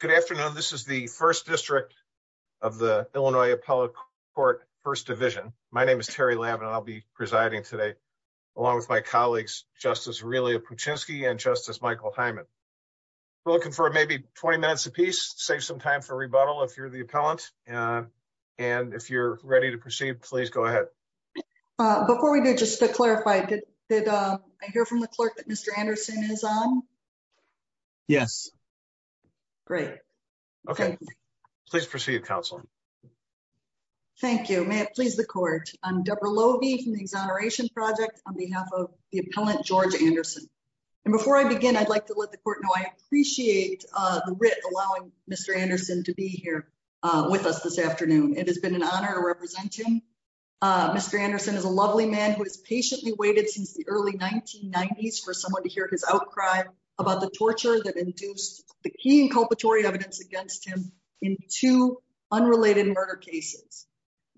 Good afternoon. This is the first district of the Illinois appellate court first division. My name is Terry Lavin. I'll be presiding today Along with my colleagues justice. Really a puchinsky and justice Michael Hyman We're looking for maybe 20 minutes apiece save some time for rebuttal if you're the appellant And if you're ready to proceed, please go ahead Before we do just to clarify did I hear from the clerk? Mr. Anderson is on Yes Great. Okay, please proceed counsel Thank you. May it please the court? I'm Debra Lovie from the exoneration project on behalf of the appellant George Anderson And before I begin I'd like to let the court know I appreciate the RIT allowing. Mr. Anderson to be here with us this afternoon It has been an honor to represent him Mr. Anderson is a lovely man who has patiently waited since the early 1990s for someone to hear his outcry about the torture that induced the key inculpatory evidence against him in two unrelated murder cases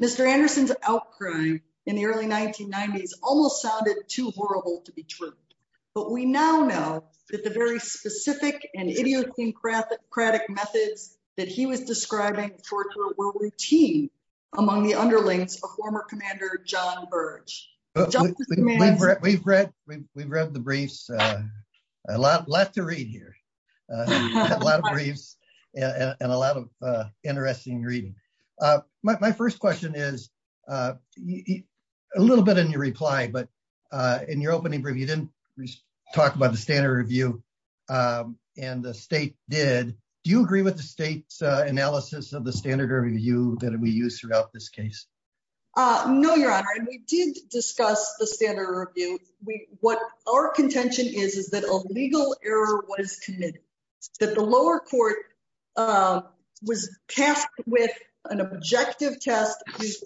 Mr. Anderson's outcry in the early 1990s almost sounded too horrible to be true But we now know that the very specific and idiocy and craft that cratic methods that he was describing routine among the underlings a former commander John Burge We've read we've read the briefs a lot left to read here a lot of briefs and a lot of interesting reading my first question is a Little bit in your reply, but in your opening review didn't talk about the standard review And the state did do you agree with the state's analysis of the standard review that we use throughout this case? No, your honor and we didn't discuss the standard review We what our contention is is that a legal error was committed that the lower court? Was tasked with an objective test What's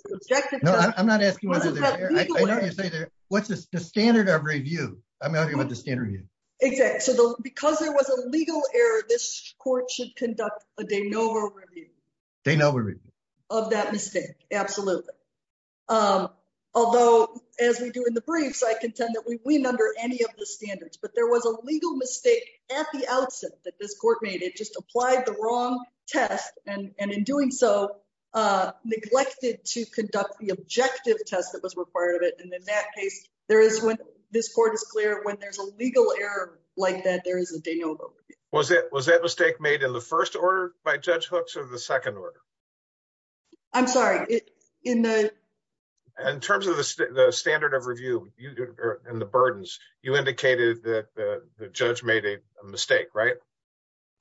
the standard of review I'm not here with the standard you exact so though because there was a legal error this court should conduct a de novo They know of that mistake absolutely Although as we do in the briefs I contend that we win under any of the standards But there was a legal mistake at the outset that this court made it just applied the wrong test and and in doing so Neglected to conduct the objective test that was required of it And in that case there is when this court is clear when there's a legal error like that Was it was that mistake made in the first order by judge hooks of the second order I'm sorry in the In terms of the standard of review you did in the burdens you indicated that the judge made a mistake, right?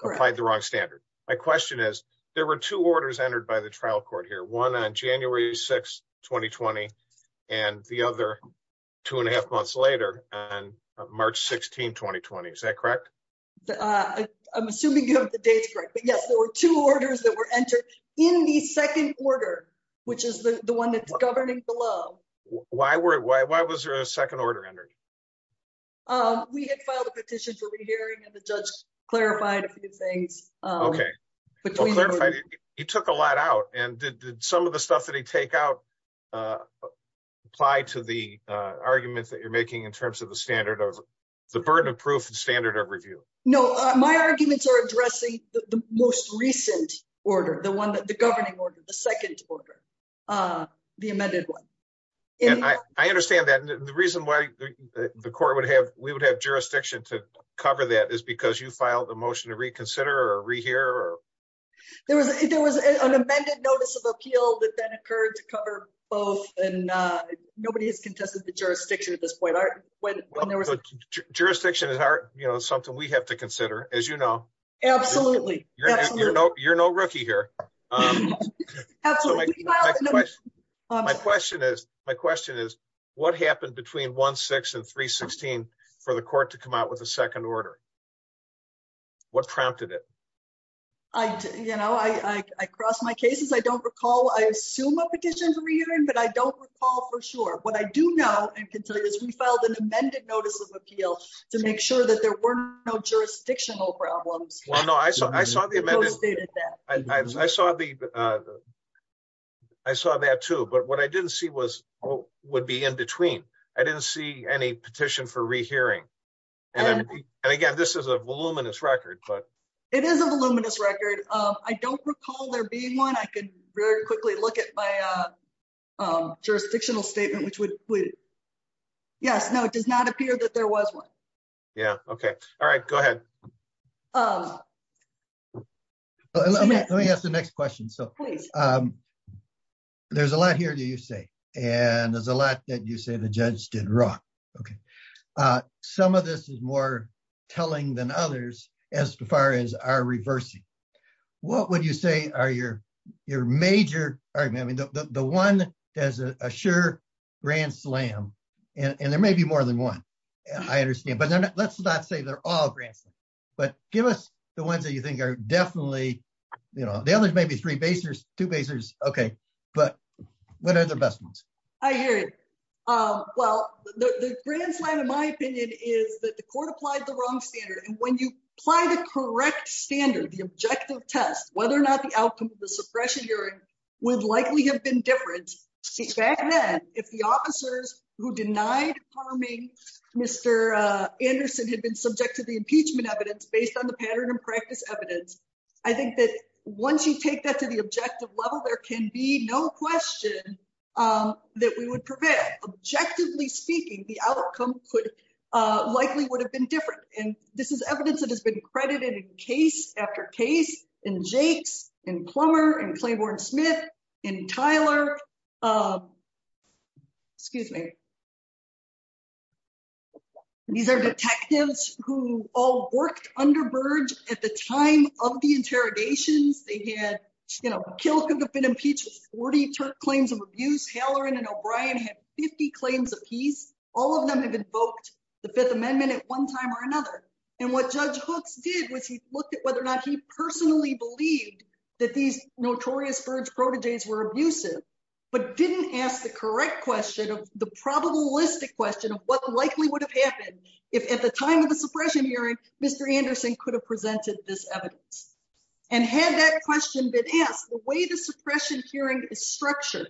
Applied the wrong standard. My question is there were two orders entered by the trial court here one on January 6 2020 and the other Two and a half months later and March 16 2020. Is that correct? I'm assuming you have the dates, right? But yes, there were two orders that were entered in the second order, which is the one that's governing below Why were why was there a second order entered? We had filed a petition for rehearing and the judge clarified a few things Okay, but you took a lot out and did some of the stuff that he take out Apply to the Arguments that you're making in terms of the standard of the burden of proof and standard of review No, my arguments are addressing the most recent order the one that the governing order the second order the amended one and I I understand that the reason why the court would have we would have jurisdiction to cover that is because you filed a motion to reconsider or rehear or There was an amended notice of appeal that then occurred to cover both and Nobody has contested the jurisdiction at this point art when there was a jurisdiction at heart, you know something we have to consider as you know Absolutely, you know, you're no rookie here My question is my question is what happened between 1 6 and 3 16 for the court to come out with a second order What prompted it? I? Know I I crossed my cases. I don't recall. I assume a petition for rearing, but I don't recall for sure What I do know and can tell you is we filed an amended notice of appeal to make sure that there were no jurisdictional problems Well, no, I saw I saw the amendment I saw the I Saw that too, but what I didn't see was what would be in between I didn't see any petition for rehearing And again, this is a voluminous record, but it is a voluminous record I don't recall there being one I could very quickly look at by a Jurisdictional statement, which would yes. No, it does not appear that there was one. Yeah. Okay. All right, go ahead Let me ask the next question so There's a lot here do you say and there's a lot that you say the judge did wrong, okay Some of this is more telling than others as far as our reversing What would you say are your your major argument? I mean the one does a sure grand slam and there may be more than one I understand But let's not say they're all grants, but give us the ones that you think are definitely, you know The others may be three basers two basers. Okay, but what are the best ones? I hear it Well, the grand slam in my opinion is that the court applied the wrong standard and when you apply the correct standard the objective test whether or not the outcome of the suppression hearing would likely have been different since back then if the officers who denied harming Mr. Anderson had been subject to the impeachment evidence based on the pattern and practice evidence I think that once you take that to the objective level there can be no question That we would prevent objectively speaking the outcome could Likely would have been different and this is evidence that has been credited in case after case in Jake's and plumber and Claiborne Smith in Tyler Excuse me These are detectives who all worked under birds at the time of the interrogations They had you know kill could have been impeached 40 Turk claims of abuse Halleran and O'Brien had 50 claims of peace all of them have invoked the Fifth Amendment at one time or another And what judge hooks did was he looked at whether or not he personally believed that these notorious birds protégées were abusive but didn't ask the correct question of the Probabilistic question of what likely would have happened if at the time of the suppression hearing. Mr Anderson could have presented this evidence and had that question been asked the way the suppression hearing is structured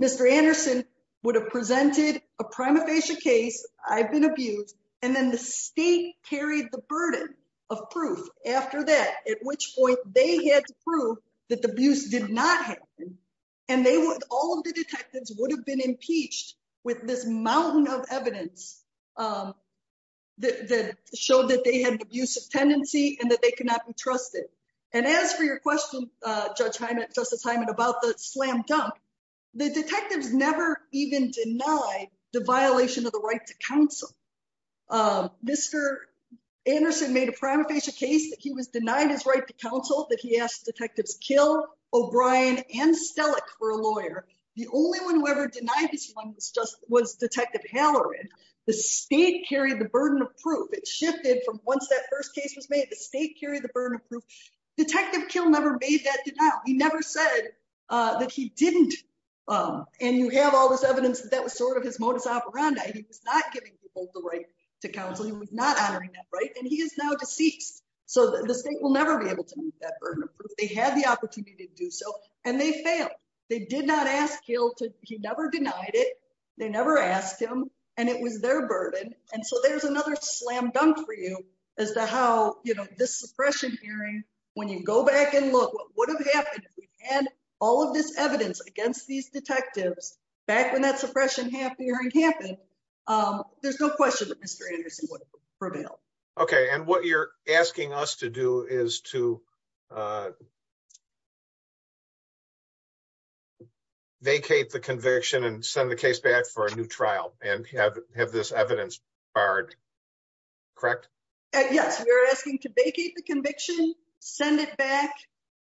Mr. Anderson would have presented a prima facie case I've been abused and then the state carried the burden of proof after that at which point they had to prove that The abuse did not happen and they would all of the detectives would have been impeached with this mountain of evidence That showed that they had abusive tendency and that they could not be trusted and as for your question Judge I met just a time and about the slam-dunk the detectives never even denied the violation of the right to counsel Mr. Anderson made a prima facie case that he was denied his right to counsel that he asked detectives kill O'Brien and Stelic for a lawyer The only one who ever denied this one was just was detective Halloran the state carried the burden of proof It shifted from once that first case was made the state carried the burden of proof Detective kill never made that denial. He never said that he didn't And you have all this evidence that was sort of his modus operandi He was not giving people the right to counsel. He was not honoring that right and he is now deceased So the state will never be able to meet that burden of proof They had the opportunity to do so and they failed they did not ask kill to he never denied it They never asked him and it was their burden And so there's another slam-dunk for you as to how you know this suppression hearing when you go back and look And all of this evidence against these detectives back when that suppression half the hearing happened There's no question Okay, and what you're asking us to do is to Vacate the conviction and send the case back for a new trial and have this evidence barred Correct. Yes, we're asking to vacate the conviction send it back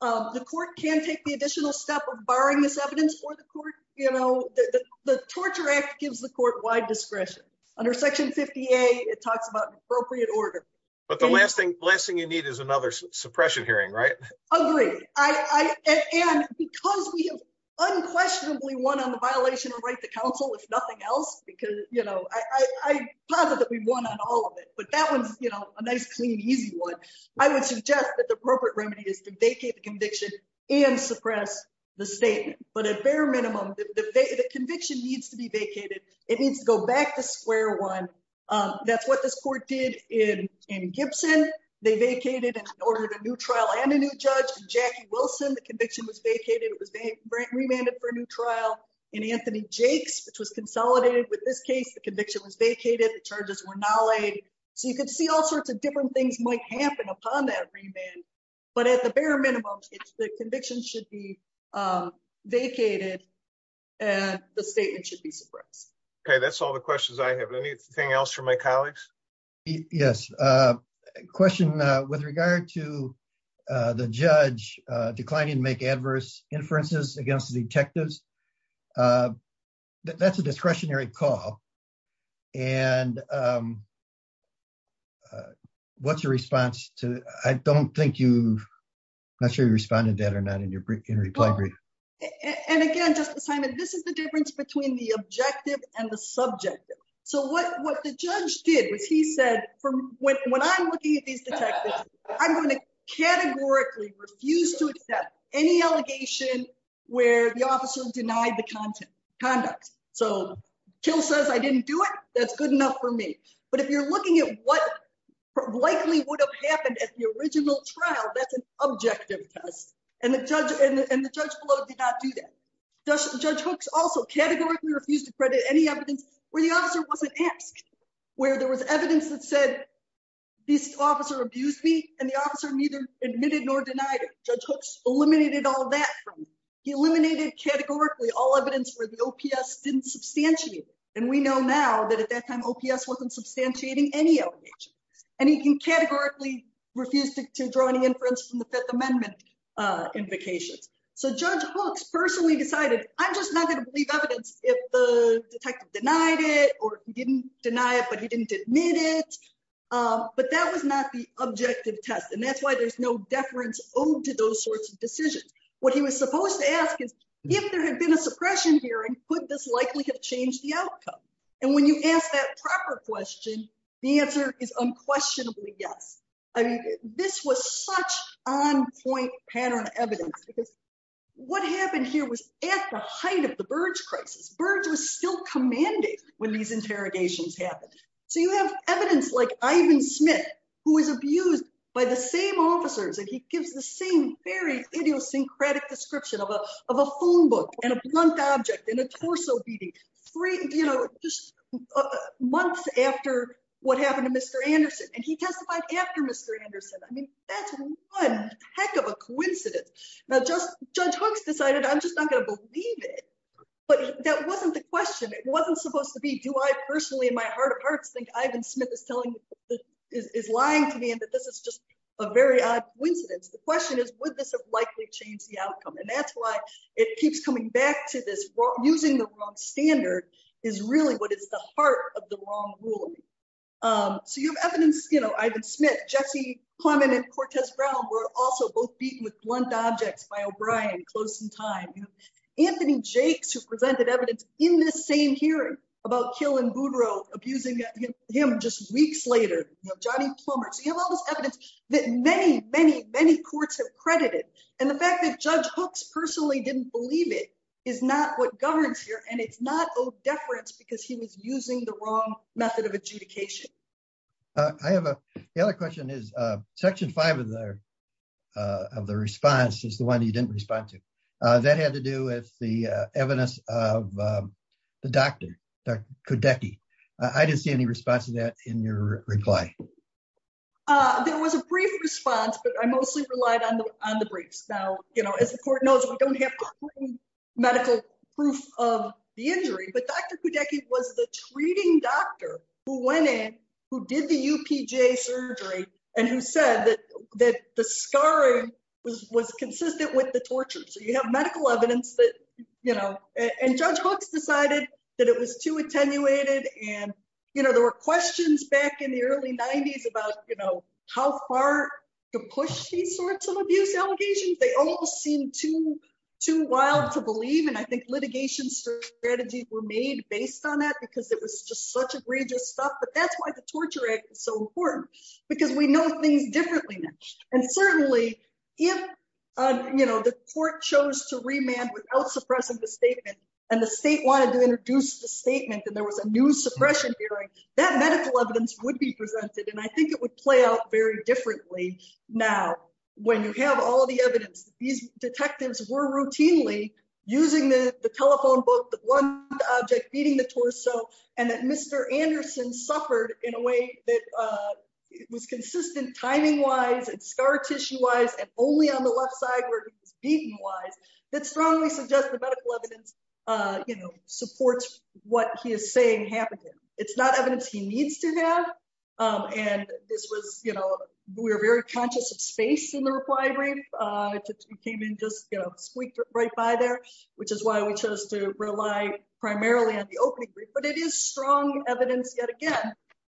The court can't take the additional step of barring this evidence for the court You know the Torture Act gives the court wide discretion under section 50 a it talks about appropriate order But the last thing blessing you need is another suppression hearing right? Unquestionably one on the violation of right to counsel if nothing else because you know, I Positively one on all of it, but that one's you know, a nice clean easy one I would suggest that the appropriate remedy is to vacate the conviction and suppress the statement But at bare minimum the conviction needs to be vacated. It needs to go back to square one That's what this court did in in Gibson They vacated and ordered a new trial and a new judge Jackie Wilson. The conviction was vacated Remanded for a new trial in Anthony Jake's which was consolidated with this case The conviction was vacated the charges were now laid so you could see all sorts of different things might happen upon that but at the bare minimum the conviction should be Vacated and the statement should be suppressed. Okay, that's all the questions. I have anything else for my colleagues. Yes question with regard to the judge Declining to make adverse inferences against the detectives That's a discretionary call and What's your response to I don't think you Not sure you responded that or not in your brick in reply brief This is the difference between the objective and the subject so what what the judge did was he said I'm going to Refuse to accept any allegation Where the officer denied the content conduct so kill says I didn't do it. That's good enough for me But if you're looking at what? Likely would have happened at the original trial That's an objective test and the judge and the judge below did not do that Just judge hooks also categorically refused to credit any evidence where the officer wasn't asked where there was evidence that said This officer abused me and the officer neither admitted nor denied it judge hooks eliminated all that He eliminated categorically all evidence where the OPS didn't substantiate and we know now that at that time OPS wasn't substantiating any And he can categorically refused to draw any inference from the Fifth Amendment invocations, so judge hooks personally decided I'm just not gonna believe evidence if the Denied it or didn't deny it, but he didn't admit it But that was not the objective test and that's why there's no deference owed to those sorts of decisions What he was supposed to ask is if there had been a suppression here and put this likely have changed the outcome And when you ask that proper question, the answer is unquestionably. Yes, I mean this was such on-point pattern evidence because What happened here was at the height of the Burge crisis Burge was still commanding when these interrogations happened So you have evidence like Ivan Smith who was abused by the same officers and he gives the same very idiosyncratic description of a of a phone book and a blunt object in a torso beating three, you know, just Months after what happened to mr. Anderson and he testified after mr. Anderson I mean, that's one heck of a coincidence now just judge hooks decided I'm just not gonna believe it But that wasn't the question it wasn't supposed to be do I personally in my heart of hearts think Ivan Smith is telling Is lying to me and that this is just a very odd coincidence The question is would this have likely changed the outcome and that's why it keeps coming back to this Using the wrong standard is really what is the heart of the wrong ruling? So you have evidence, you know, I've been Smith Jesse Clement and Cortez Brown We're also both beaten with blunt objects by O'Brien close in time Anthony Jake's who presented evidence in this same hearing about killing Boudreaux abusing him just weeks later That many many many courts have credited and the fact that judge hooks personally didn't believe it is not what governs here and It's not Oh deference because he was using the wrong method of adjudication. I Have a the other question is section 5 of their Of the response is the one you didn't respond to that had to do with the evidence of The doctor that could Decke. I didn't see any response to that in your reply There was a brief response, but I mostly relied on the on the briefs now, you know as the court knows we don't have medical proof of the injury But dr Kudeki was the treating doctor who went in who did the UPJ surgery and who said that that the scar of Was consistent with the torture so you have medical evidence that you know and judge hooks decided that it was too attenuated and You know, there were questions back in the early 90s about you know, how far to push these sorts of abuse allegations they all seem to Too wild to believe and I think litigation Strategies were made based on that because it was just such egregious stuff That's why the torture egg is so important because we know things differently and certainly if You know the court chose to remand without suppressing the statement and the state wanted to introduce the statement that there was a new Suppression hearing that medical evidence would be presented and I think it would play out very differently Now when you have all the evidence these detectives were routinely using the telephone book Object beating the torso and that mr. Anderson suffered in a way that It was consistent timing wise and scar tissue wise and only on the left side where he's beaten wise That strongly suggest the medical evidence You know supports what he is saying happening. It's not evidence. He needs to have And this was you know, we were very conscious of space in the reply brief To came in just squeaked right by there, which is why we chose to rely primarily on the opening But it is strong evidence yet again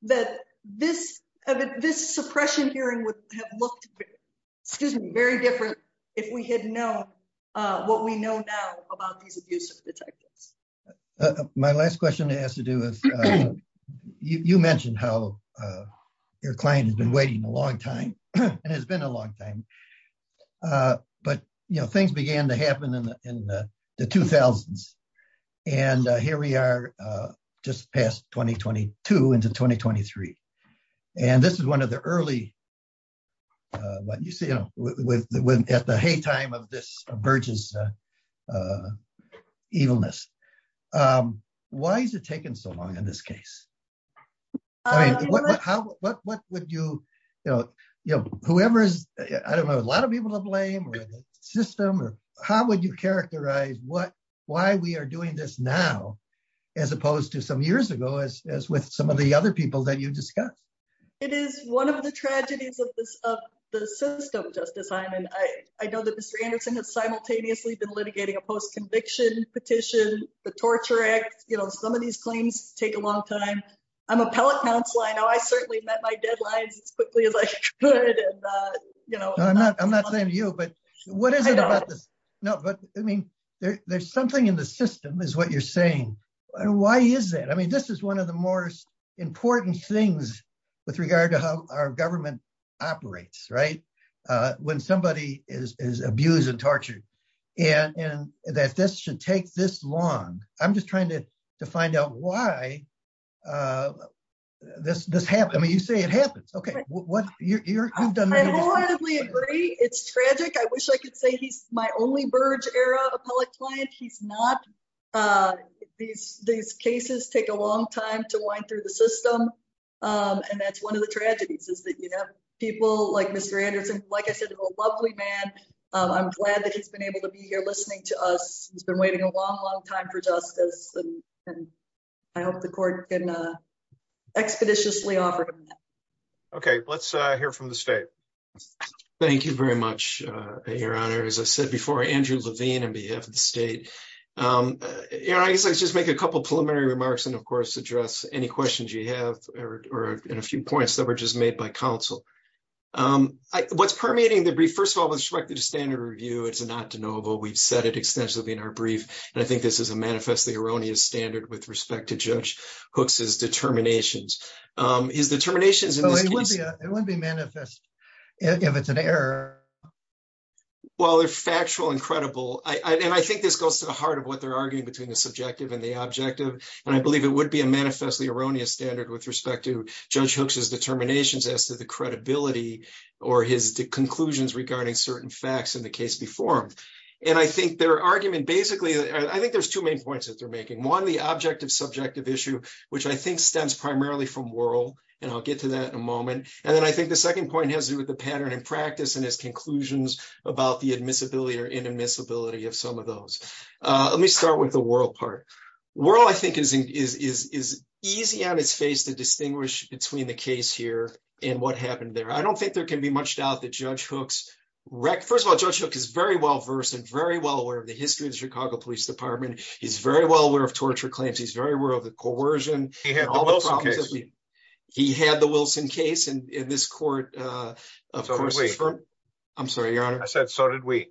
that this of it this suppression hearing would have looked Excuse me, very different if we had known What we know now about these abusive detectives my last question has to do with You mentioned how? Your client has been waiting a long time and has been a long time But you know things began to happen in the 2000s and Here we are Just past 2022 into 2023 and this is one of the early What you see, you know with the hey time of this Burgess Evilness Why is it taken so long in this case? What how what would you you know, you know, whoever is I don't know a lot of people to blame System, how would you characterize? What why we are doing this now as opposed to some years ago as with some of the other people that you discussed? It is one of the tragedies of this of the system justice. I'm and I I know that mr Anderson has simultaneously been litigating a post-conviction petition the Torture Act, you know, some of these claims take a long time I'm appellate counsel. I know I certainly met my deadlines as quickly as I You know, I'm not I'm not saying you but what is it about this? No, but I mean there's something in the system Is what you're saying? Why is that? I mean, this is one of the more Important things with regard to how our government operates, right? When somebody is abused and tortured and and that this should take this long I'm just trying to to find out why This this happened, I mean you say it happens, okay It's tragic I wish I could say he's my only Burge era appellate client he's not These these cases take a long time to wind through the system And that's one of the tragedies is that you have people like mr. Anderson. Like I said a lovely man I'm glad that he's been able to be here listening to us. He's been waiting a long long time for justice I hope the court can expeditiously offer Okay, let's hear from the state Thank you very much. Your honor as I said before Andrew Levine and behalf of the state You know, I guess let's just make a couple preliminary remarks and of course address any questions you have Or in a few points that were just made by counsel What's permeating the brief first of all with respect to the standard review? It's not to know We've said it extensively in our brief and I think this is a manifestly erroneous standard with respect to judge hooks's determinations Is the terminations? If it's an error Well, they're factual and credible I mean I think this goes to the heart of what they're arguing between the subjective and the objective and I believe it would be a manifestly erroneous standard with respect to judge hooks's determinations as to the credibility or his Conclusions regarding certain facts in the case before him and I think their argument basically I think there's two main points that they're making one the objective subjective issue Which I think stems primarily from world and I'll get to that in a moment And then I think the second point has to do with the pattern and practice and his conclusions About the admissibility or inadmissibility of some of those Let me start with the world part We're all I think is is is easy on its face to distinguish between the case here and what happened there I don't think there can be much doubt that judge hooks Wreck first of all judge hook is very well-versed and very well aware of the history of the Chicago Police Department He's very well aware of torture claims. He's very aware of the coercion He had the Wilson case and in this court I'm sorry, your honor. I said so did we?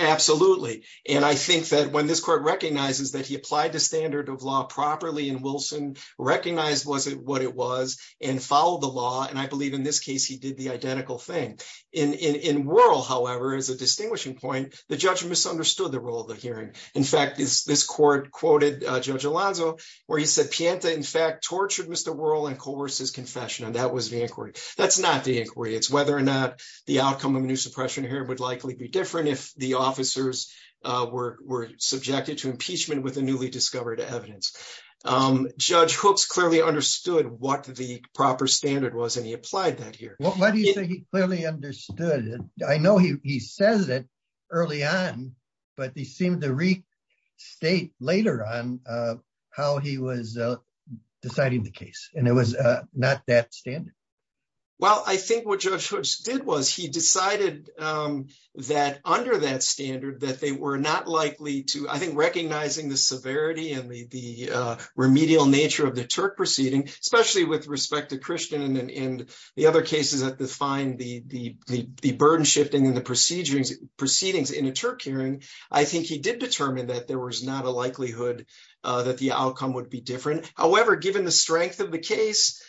Absolutely, and I think that when this court recognizes that he applied the standard of law properly and Wilson recognized Was it what it was and followed the law and I believe in this case? He did the identical thing in in in world However, as a distinguishing point the judge misunderstood the role of the hearing In fact is this court quoted judge Alonzo where he said Pianta in fact tortured. Mr Whirl and coerces confession and that was the inquiry. That's not the inquiry It's whether or not the outcome of a new suppression here would likely be different if the officers Were were subjected to impeachment with a newly discovered evidence Judge hooks clearly understood what the proper standard was and he applied that here. Why do you think he clearly understood? I know he says it early on but he seemed to read state later on how he was Deciding the case and it was not that standard. Well, I think what judge did was he decided? That under that standard that they were not likely to I think recognizing the severity and the remedial nature of the Turk proceeding especially with respect to Christian and the other cases that define the Burden shifting in the proceedings proceedings in a Turk hearing. I think he did determine that there was not a likelihood That the outcome would be different. However, given the strength of the case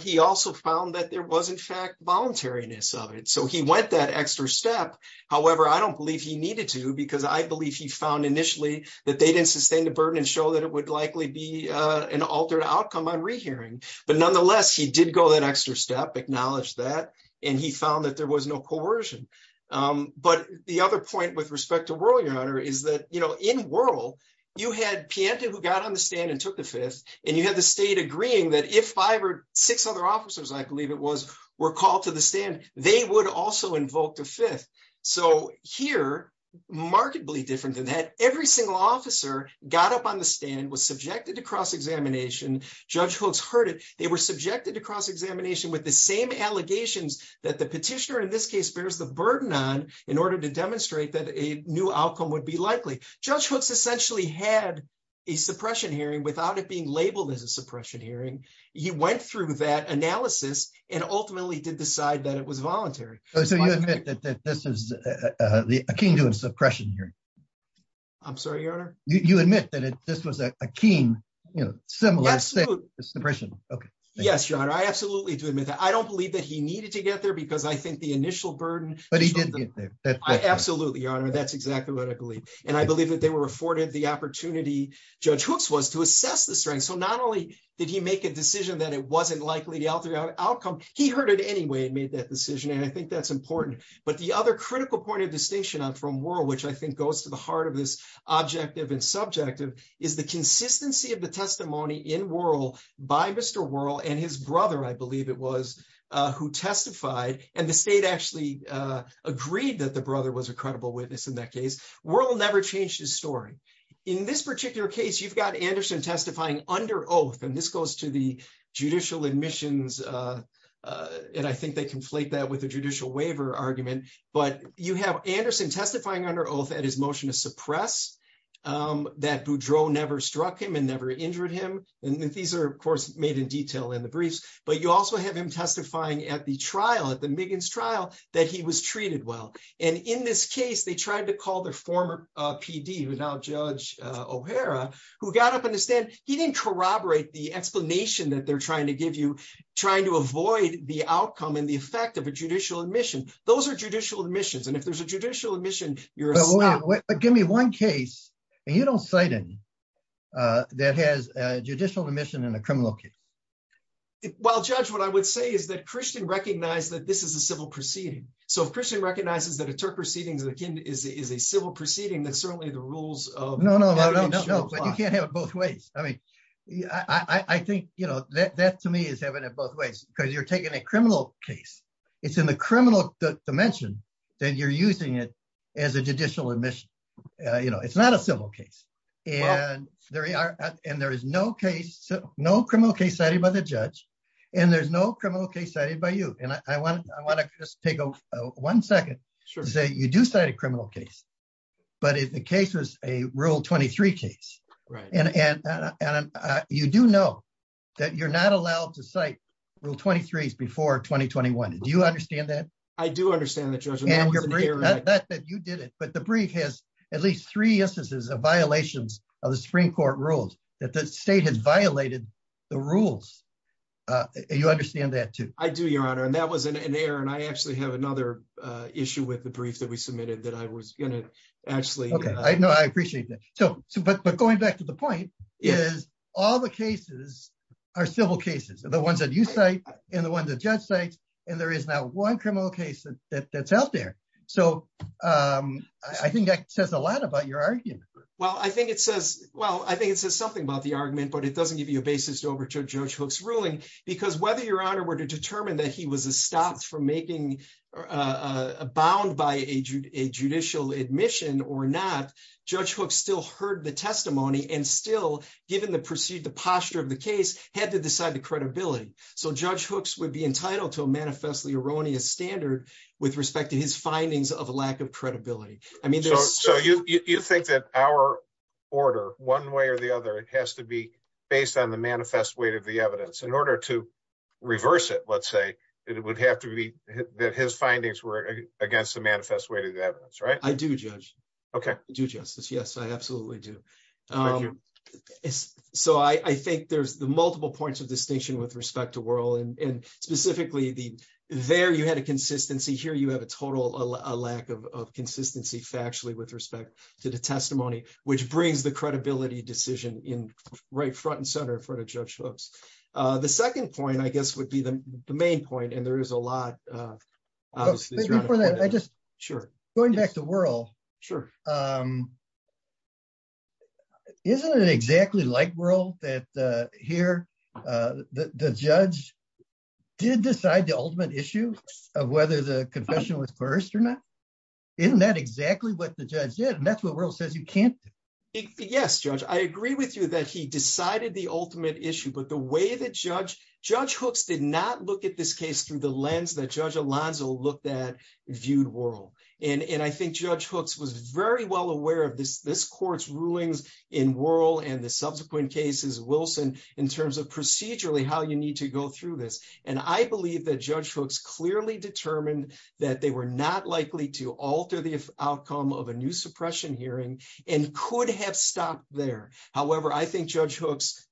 He also found that there was in fact voluntariness of it. So he went that extra step however I don't believe he needed to because I believe he found initially that they didn't sustain the burden and show that it would likely be An altered outcome on rehearing but nonetheless he did go that extra step acknowledged that and he found that there was no coercion But the other point with respect to world your honor is that you know in world You had Pianta who got on the stand and took the fifth and you had the state agreeing that if five or six other officers I believe it was were called to the stand. They would also invoke the fifth. So here Markedly different than that. Every single officer got up on the stand was subjected to cross-examination Judge hooks heard it They were subjected to cross-examination with the same Allegations that the petitioner in this case bears the burden on in order to demonstrate that a new outcome would be likely Judge hooks essentially had a suppression hearing without it being labeled as a suppression hearing He went through that analysis and ultimately did decide that it was voluntary. So you admit that this is The kingdom suppression here I'm sorry, you admit that it this was a keen, you know, so let's say it's depression. Okay. Yes, your honor I absolutely do admit that I don't believe that he needed to get there because I think the initial burden but he did Absolutely, your honor that's exactly what I believe and I believe that they were afforded the opportunity Judge hooks was to assess the strength So not only did he make a decision that it wasn't likely to alter the outcome He heard it Anyway, it made that decision and I think that's important but the other critical point of distinction on from world Which I think goes to the heart of this Objective and subjective is the consistency of the testimony in world by mr Whirl and his brother I believe it was who testified and the state actually Agreed that the brother was a credible witness in that case world never changed his story in this particular case You've got Anderson testifying under oath and this goes to the judicial admissions And I think they conflate that with a judicial waiver argument, but you have Anderson testifying under oath at his motion to suppress That Boudreaux never struck him and never injured him and these are of course made in detail in the briefs You also have him testifying at the trial at the Miggins trial that he was treated Well, and in this case, they tried to call their former PD without judge O'Hara who got up in the stand? He didn't corroborate the explanation that they're trying to give you Trying to avoid the outcome and the effect of a judicial admission Those are judicial admissions and if there's a judicial admission, you're not give me one case and you don't cite in That has a judicial admission in a criminal case Well judge what I would say is that Christian recognized that this is a civil proceeding So if Christian recognizes that a Turk proceedings that again is is a civil proceeding that's certainly the rules I Think you know that to me is evident both ways because you're taking a criminal case It's in the criminal dimension then you're using it as a judicial admission You know, it's not a civil case and there are and there is no case No criminal case cited by the judge and there's no criminal case cited by you And I want I want to just take a one second say you do cite a criminal case but if the case was a rule 23 case, right and and You do know that you're not allowed to cite rule 23s before 2021. Do you understand that? I do understand that you did it But the brief has at least three instances of violations of the Supreme Court rules that the state has violated the rules You understand that too. I do your honor and that wasn't in there and I actually have another Issue with the brief that we submitted that I was gonna actually okay. I know I appreciate that So but but going back to the point is all the cases Are civil cases are the ones that you say and the ones that judge sites and there is now one criminal case that that's out there, so I think that says a lot about your argument Well, I think it says well, I think it says something about the argument but it doesn't give you a basis to over to judge hooks ruling because whether your honor were to determine that he was a stopped from making bound by a judicial admission or not Judge hooks still heard the testimony and still given the proceed the posture of the case had to decide the credibility So judge hooks would be entitled to a manifestly erroneous standard with respect to his findings of a lack of credibility I mean, so you you think that our Order one way or the other it has to be based on the manifest weight of the evidence in order to Reverse it. Let's say it would have to be that his findings were against the manifest way to the evidence, right? I do judge. Okay do justice. Yes, I absolutely do So I I think there's the multiple points of distinction with respect to world and Specifically the there you had a consistency here You have a total a lack of consistency factually with respect to the testimony which brings the credibility Decision in right front and center for the judge hooks. The second point I guess would be the main point and there is a lot Sure going back to world sure Isn't it exactly like world that here the judge Did decide the ultimate issue of whether the confession was first or not Isn't that exactly what the judge did and that's what world says you can't Yes, judge. I agree with you that he decided the ultimate issue But the way that judge judge hooks did not look at this case through the lens that judge Alonzo looked at Viewed world and and I think judge hooks was very well aware of this this court's rulings in World and the subsequent cases Wilson in terms of procedurally how you need to go through this and I believe that judge hooks clearly Determined that they were not likely to alter the outcome of a new suppression hearing and could have stopped there however, I think judge hooks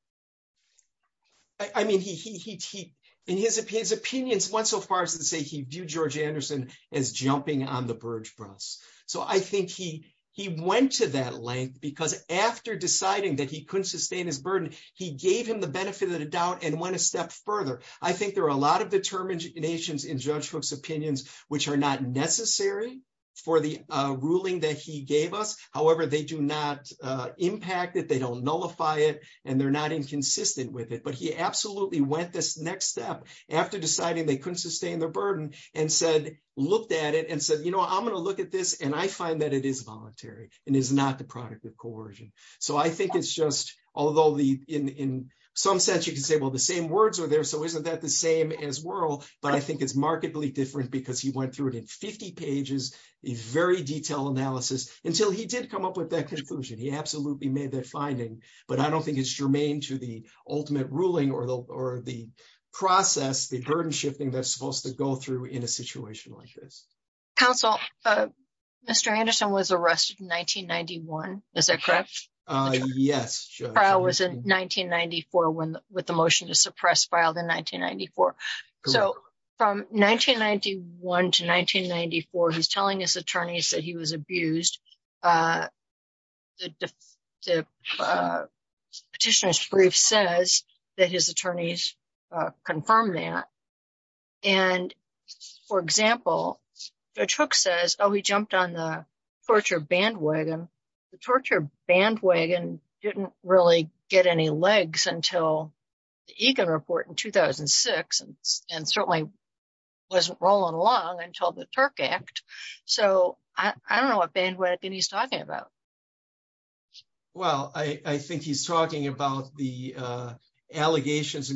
I Mean he he he in his opinions went so far as to say he viewed George Anderson as He he went to that length because after deciding that he couldn't sustain his burden He gave him the benefit of the doubt and went a step further I think there are a lot of determinations in judge hooks opinions, which are not necessary for the ruling that he gave us however, they do not Impacted they don't nullify it and they're not inconsistent with it But he absolutely went this next step after deciding they couldn't sustain their burden and said looked at it and said, you know I'm gonna look at this and I find that it is voluntary and is not the product of coercion So I think it's just although the in in some sense you can say well the same words are there So isn't that the same as world? But I think it's markedly different because he went through it in 50 pages a very detailed analysis until he did come up with that Conclusion he absolutely made that finding but I don't think it's germane to the ultimate ruling or the or the process The burden shifting that's supposed to go through in a situation like this Counsel Mr. Anderson was arrested in 1991. Is that correct? Yes, I was in 1994 when with the motion to suppress filed in 1994. So from 1991 to 1994. He's telling his attorneys that he was abused The petitioner's brief says that his attorneys confirmed that and For example the truck says oh he jumped on the torture bandwagon the torture bandwagon didn't really get any legs until the Egan report in 2006 and certainly Wasn't rolling along until the Turk act. So I don't know what bandwagon he's talking about Well, I I think he's talking about the Bandwagon is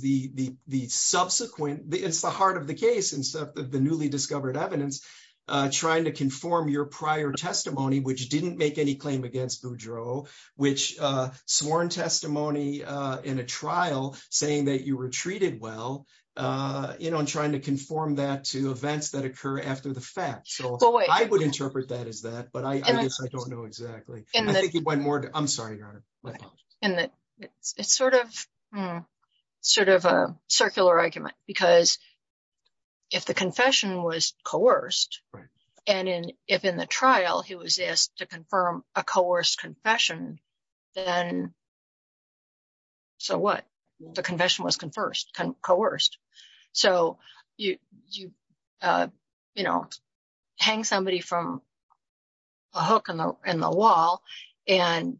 the Subsequent it's the heart of the case and stuff that the newly discovered evidence trying to conform your prior testimony, which didn't make any claim against Boudreau which sworn testimony In a trial saying that you were treated. Well You know, I'm trying to conform that to events that occur after the fact So I would interpret that as that but I don't know exactly and I think it went more. I'm sorry and it's sort of sort of a circular argument because if the confession was coerced and in if in the trial he was asked to confirm a coerced confession and So what the confession was confers can coerced so you you you know hang somebody from a hook in the wall and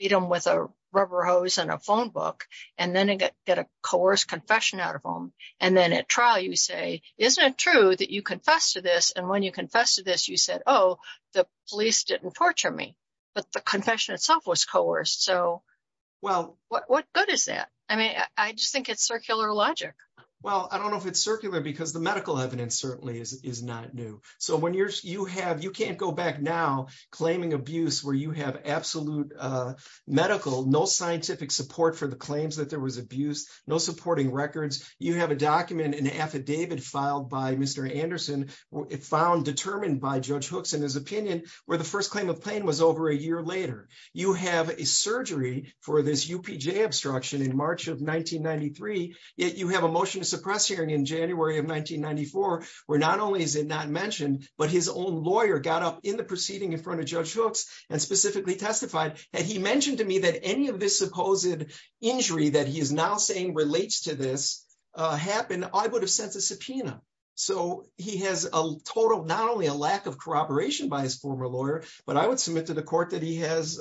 Beat him with a rubber hose and a phone book and then I get a coerced confession out of home And then at trial you say isn't it true that you confess to this and when you confess to this you said? Oh, the police didn't torture me, but the confession itself was coerced. So Well, what good is that? I mean, I just think it's circular logic Well, I don't know if it's circular because the medical evidence certainly is not new So when you're you have you can't go back now claiming abuse where you have absolute Medical no scientific support for the claims that there was abuse no supporting records. You have a document an affidavit filed by. Mr Anderson it found determined by judge hooks in his opinion where the first claim of pain was over a year later You have a surgery for this UPJ obstruction in March of 1993 Yet you have a motion to suppress hearing in January of 1994 we're not only is it not mentioned but his own lawyer got up in the proceeding in front of judge hooks and Specifically testified and he mentioned to me that any of this supposed injury that he is now saying relates to this Happened I would have sent a subpoena So he has a total not only a lack of cooperation by his former lawyer, but I would submit to the court that he has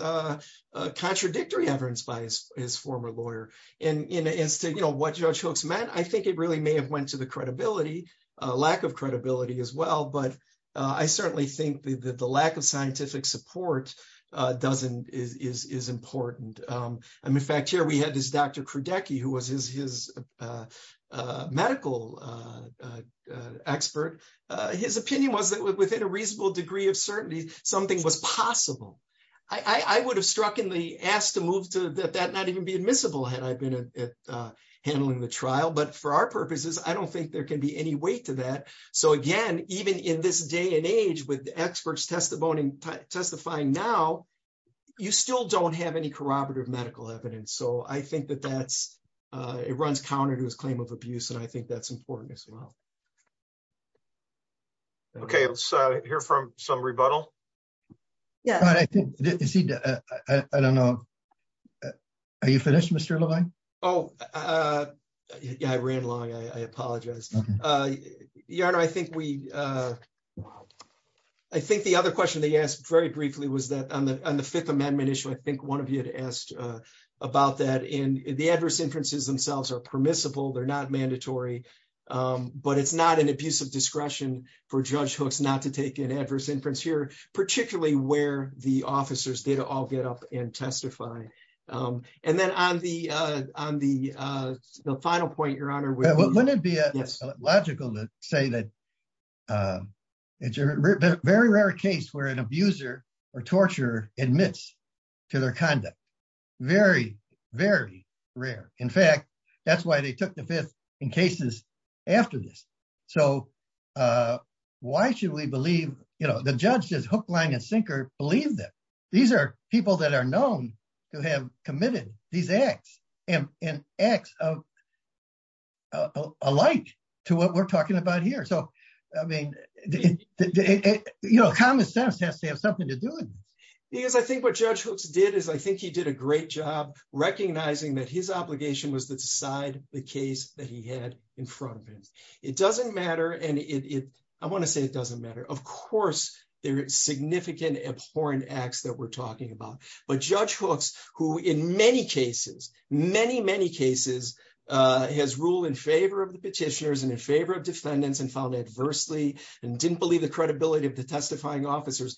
Contradictory evidence by his former lawyer and in a instant, you know what judge hooks meant I think it really may have went to the credibility a lack of credibility as well But I certainly think that the lack of scientific support Doesn't is is important. I'm in fact here. We had this. Dr. Krudecky who was his his Medical Expert his opinion was that within a reasonable degree of certainty something was possible I I would have struck in the asked to move to that that not even be admissible had I been Handling the trial but for our purposes, I don't think there can be any weight to that So again, even in this day and age with the experts testimoning testifying now You still don't have any corroborative medical evidence. So I think that that's It runs counter to his claim of abuse and I think that's important as well Okay, let's hear from some rebuttal Yeah, I think I don't know Are you finished? Mr. Levine? Oh Yeah, I ran long. I apologize yarn, I think we I Think the other question they asked very briefly was that on the on the Fifth Amendment issue I think one of you had asked about that in the adverse inferences themselves are permissible. They're not mandatory But it's not an abuse of discretion for judge hooks not to take an adverse inference here particularly where the officers did all get up and testify and then on the on the Final point your honor. Well, wouldn't it be? Yes logical to say that It's a very rare case where an abuser or torture admits to their conduct Very very rare. In fact, that's why they took the fifth in cases after this. So Why should we believe you know, the judge says hook line and sinker believe that these are people that are known to have committed these acts and in acts of Alight to what we're talking about here. So I mean You know common sense has to have something to do it because I think what judge hooks did is I think he did a great job Recognizing that his obligation was to decide the case that he had in front of him It doesn't matter and it I want to say it doesn't matter Of course, there is significant abhorrent acts that we're talking about but judge hooks who in many cases many many cases Has ruled in favor of the petitioners and in favor of defendants and found adversely and didn't believe the credibility of the testifying officers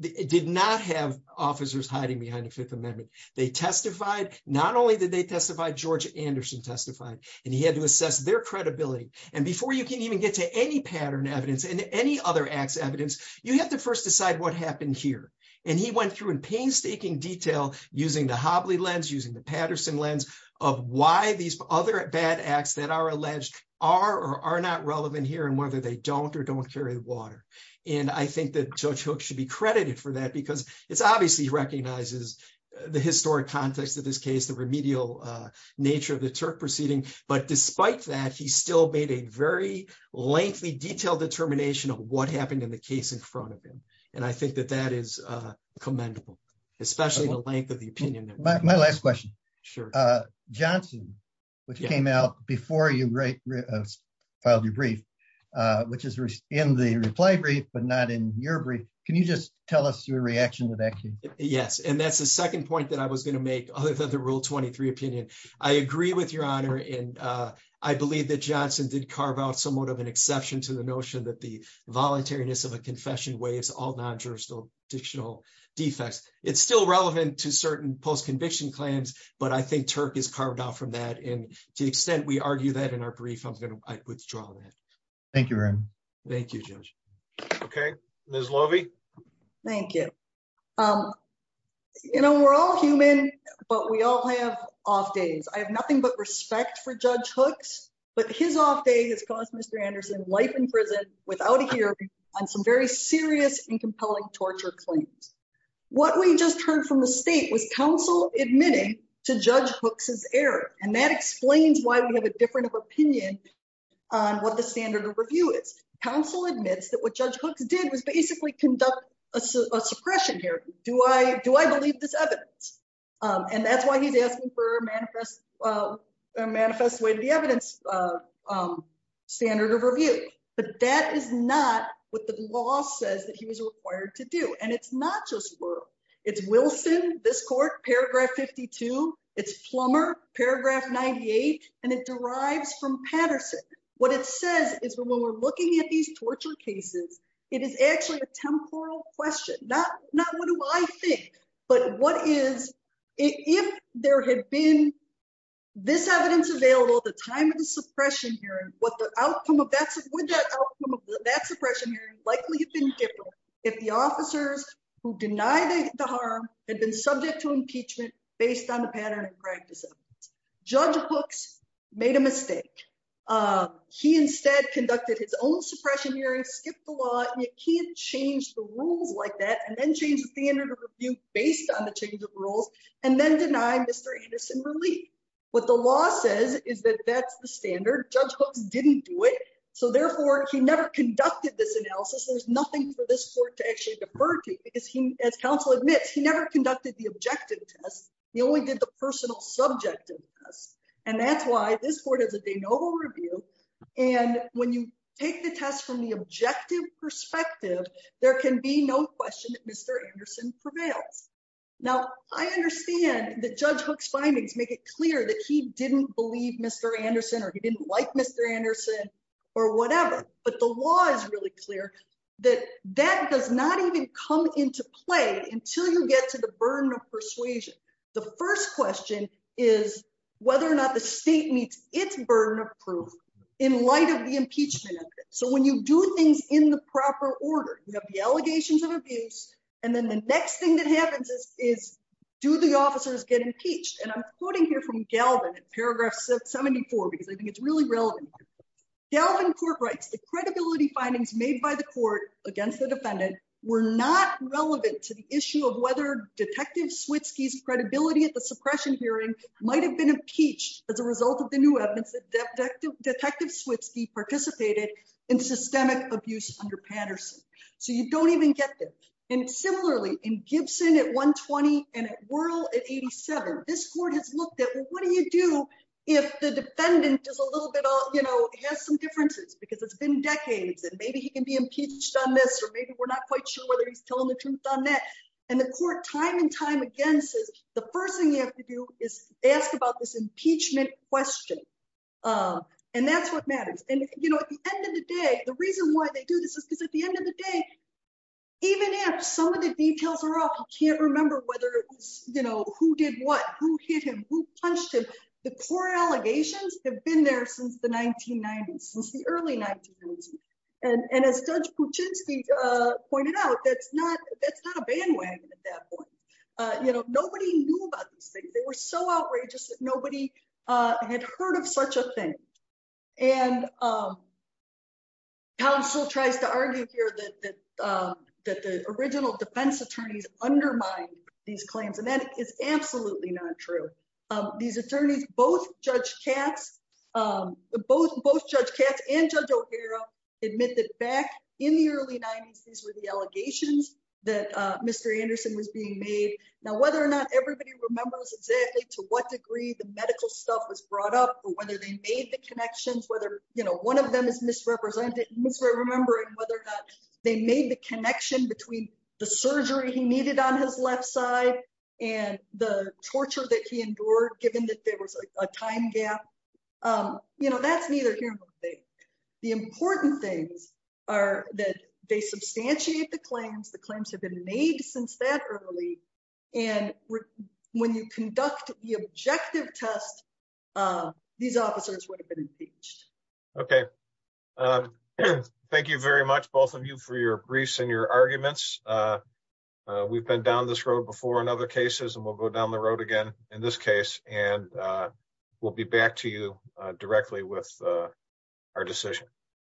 It did not have officers hiding behind the Fifth Amendment They testified not only did they testify George Anderson testified and he had to assess their credibility And before you can even get to any pattern evidence and any other acts evidence You have to first decide what happened here and he went through in painstaking detail Using the Hobley lens using the Patterson lens of why these other bad acts that are alleged are Or are not relevant here and whether they don't or don't carry water And I think that judge hook should be credited for that because it's obviously recognizes the historic context of this case the remedial nature of the Turk proceeding but despite that he still made a very Lengthy detailed determination of what happened in the case in front of him and I think that that is commendable Especially the length of the opinion. My last question. Sure Johnson which came out before you write Filed your brief, which is in the reply brief, but not in your brief Can you just tell us your reaction to that? Yes, and that's the second point that I was going to make other than the rule 23 opinion I agree with your honor and I believe that Johnson did carve out somewhat of an exception to the notion that the Relevant to certain post-conviction claims, but I think Turk is carved out from that and to the extent we argue that in our brief I'm going to withdraw that Thank You. Thank You Okay, there's lovie. Thank you You know, we're all human but we all have off days I have nothing but respect for judge hooks But his off day has caused mr. Anderson life in prison without a hearing on some very serious and compelling torture claims What we just heard from the state was counsel admitting to judge hooks's error and that explains why we have a different of opinion What the standard of review is counsel admits that what judge hooks did was basically conduct a suppression here Do I do I believe this evidence? And that's why he's asking for a manifest manifest way to the evidence Standard of review, but that is not what the law says that he was required to do and it's not just It's Wilson this court paragraph 52. It's plumber paragraph 98 and it derives from Patterson What it says is when we're looking at these torture cases, it is actually a temporal question Not not what do I think but what is if there had been? This evidence available the time of the suppression here what the outcome of that's That suppression likely have been different if the officers who denied the harm had been subject to impeachment Based on the pattern of practice Judge books made a mistake He instead conducted his own suppression hearing skipped a lot You can't change the rules like that and then change the standard of review based on the change of rules and then deny mr Anderson relief what the law says is that that's the standard judge books didn't do it So therefore he never conducted this analysis There's nothing for this court to actually defer to because he as counsel admits he never conducted the objective test he only did the personal subjective us and that's why this board has a de novo review and When you take the test from the objective perspective There can be no question. Mr. Anderson prevails now Understand the judge hooks findings make it clear that he didn't believe mr. Anderson or he didn't like mr Anderson or whatever But the law is really clear that that does not even come into play until you get to the burden of persuasion the first question is Whether or not the state meets its burden of proof in light of the impeachment So when you do things in the proper order Allegations of abuse and then the next thing that happens is do the officers get impeached and I'm quoting here from Galvin It's paragraph 74 because I think it's really relevant Galvin court writes the credibility findings made by the court against the defendant were not relevant to the issue of whether Detective Switsky's credibility at the suppression hearing might have been impeached as a result of the new evidence that Detective Switsky participated in systemic abuse under Patterson So you don't even get them and similarly in Gibson at 120 and at world at 87 This court has looked at what do you do if the defendant is a little bit off? You know has some differences because it's been decades and maybe he can be impeached on this or maybe we're not quite sure whether he's Telling the truth on that and the court time and time again says the first thing you have to do is ask about this impeachment Question and that's what matters and you know at the end of the day the reason why they do this is because at the end of the day Even if some of the details are off You can't remember whether you know who did what who hit him who punched him the core allegations have been there since the 1990s since the early 1990s and and as judge Puchinsky Pointed out that's not that's not a bandwagon at that point. You know, nobody knew about these things They were so outrageous that nobody had heard of such a thing and Counsel tries to argue here that That the original defense attorneys undermined these claims and that is absolutely not true These attorneys both judge Katz Both both judge Katz and judge O'Hara Admit that back in the early 90s. These were the allegations that Mr. Anderson was being made now whether or not everybody remembers exactly to what degree the medical stuff was brought up But whether they made the connections whether you know, one of them is misrepresented this way remembering whether or not they made the connection between the surgery he needed on his left side and The torture that he endured given that there was a time gap You know, that's neither here The important things are that they substantiate the claims The claims have been made since that early and when you conduct the objective test These officers would have been impeached. Okay Thank you very much both of you for your briefs and your arguments we've been down this road before in other cases and we'll go down the road again in this case and We'll be back to you directly with our decision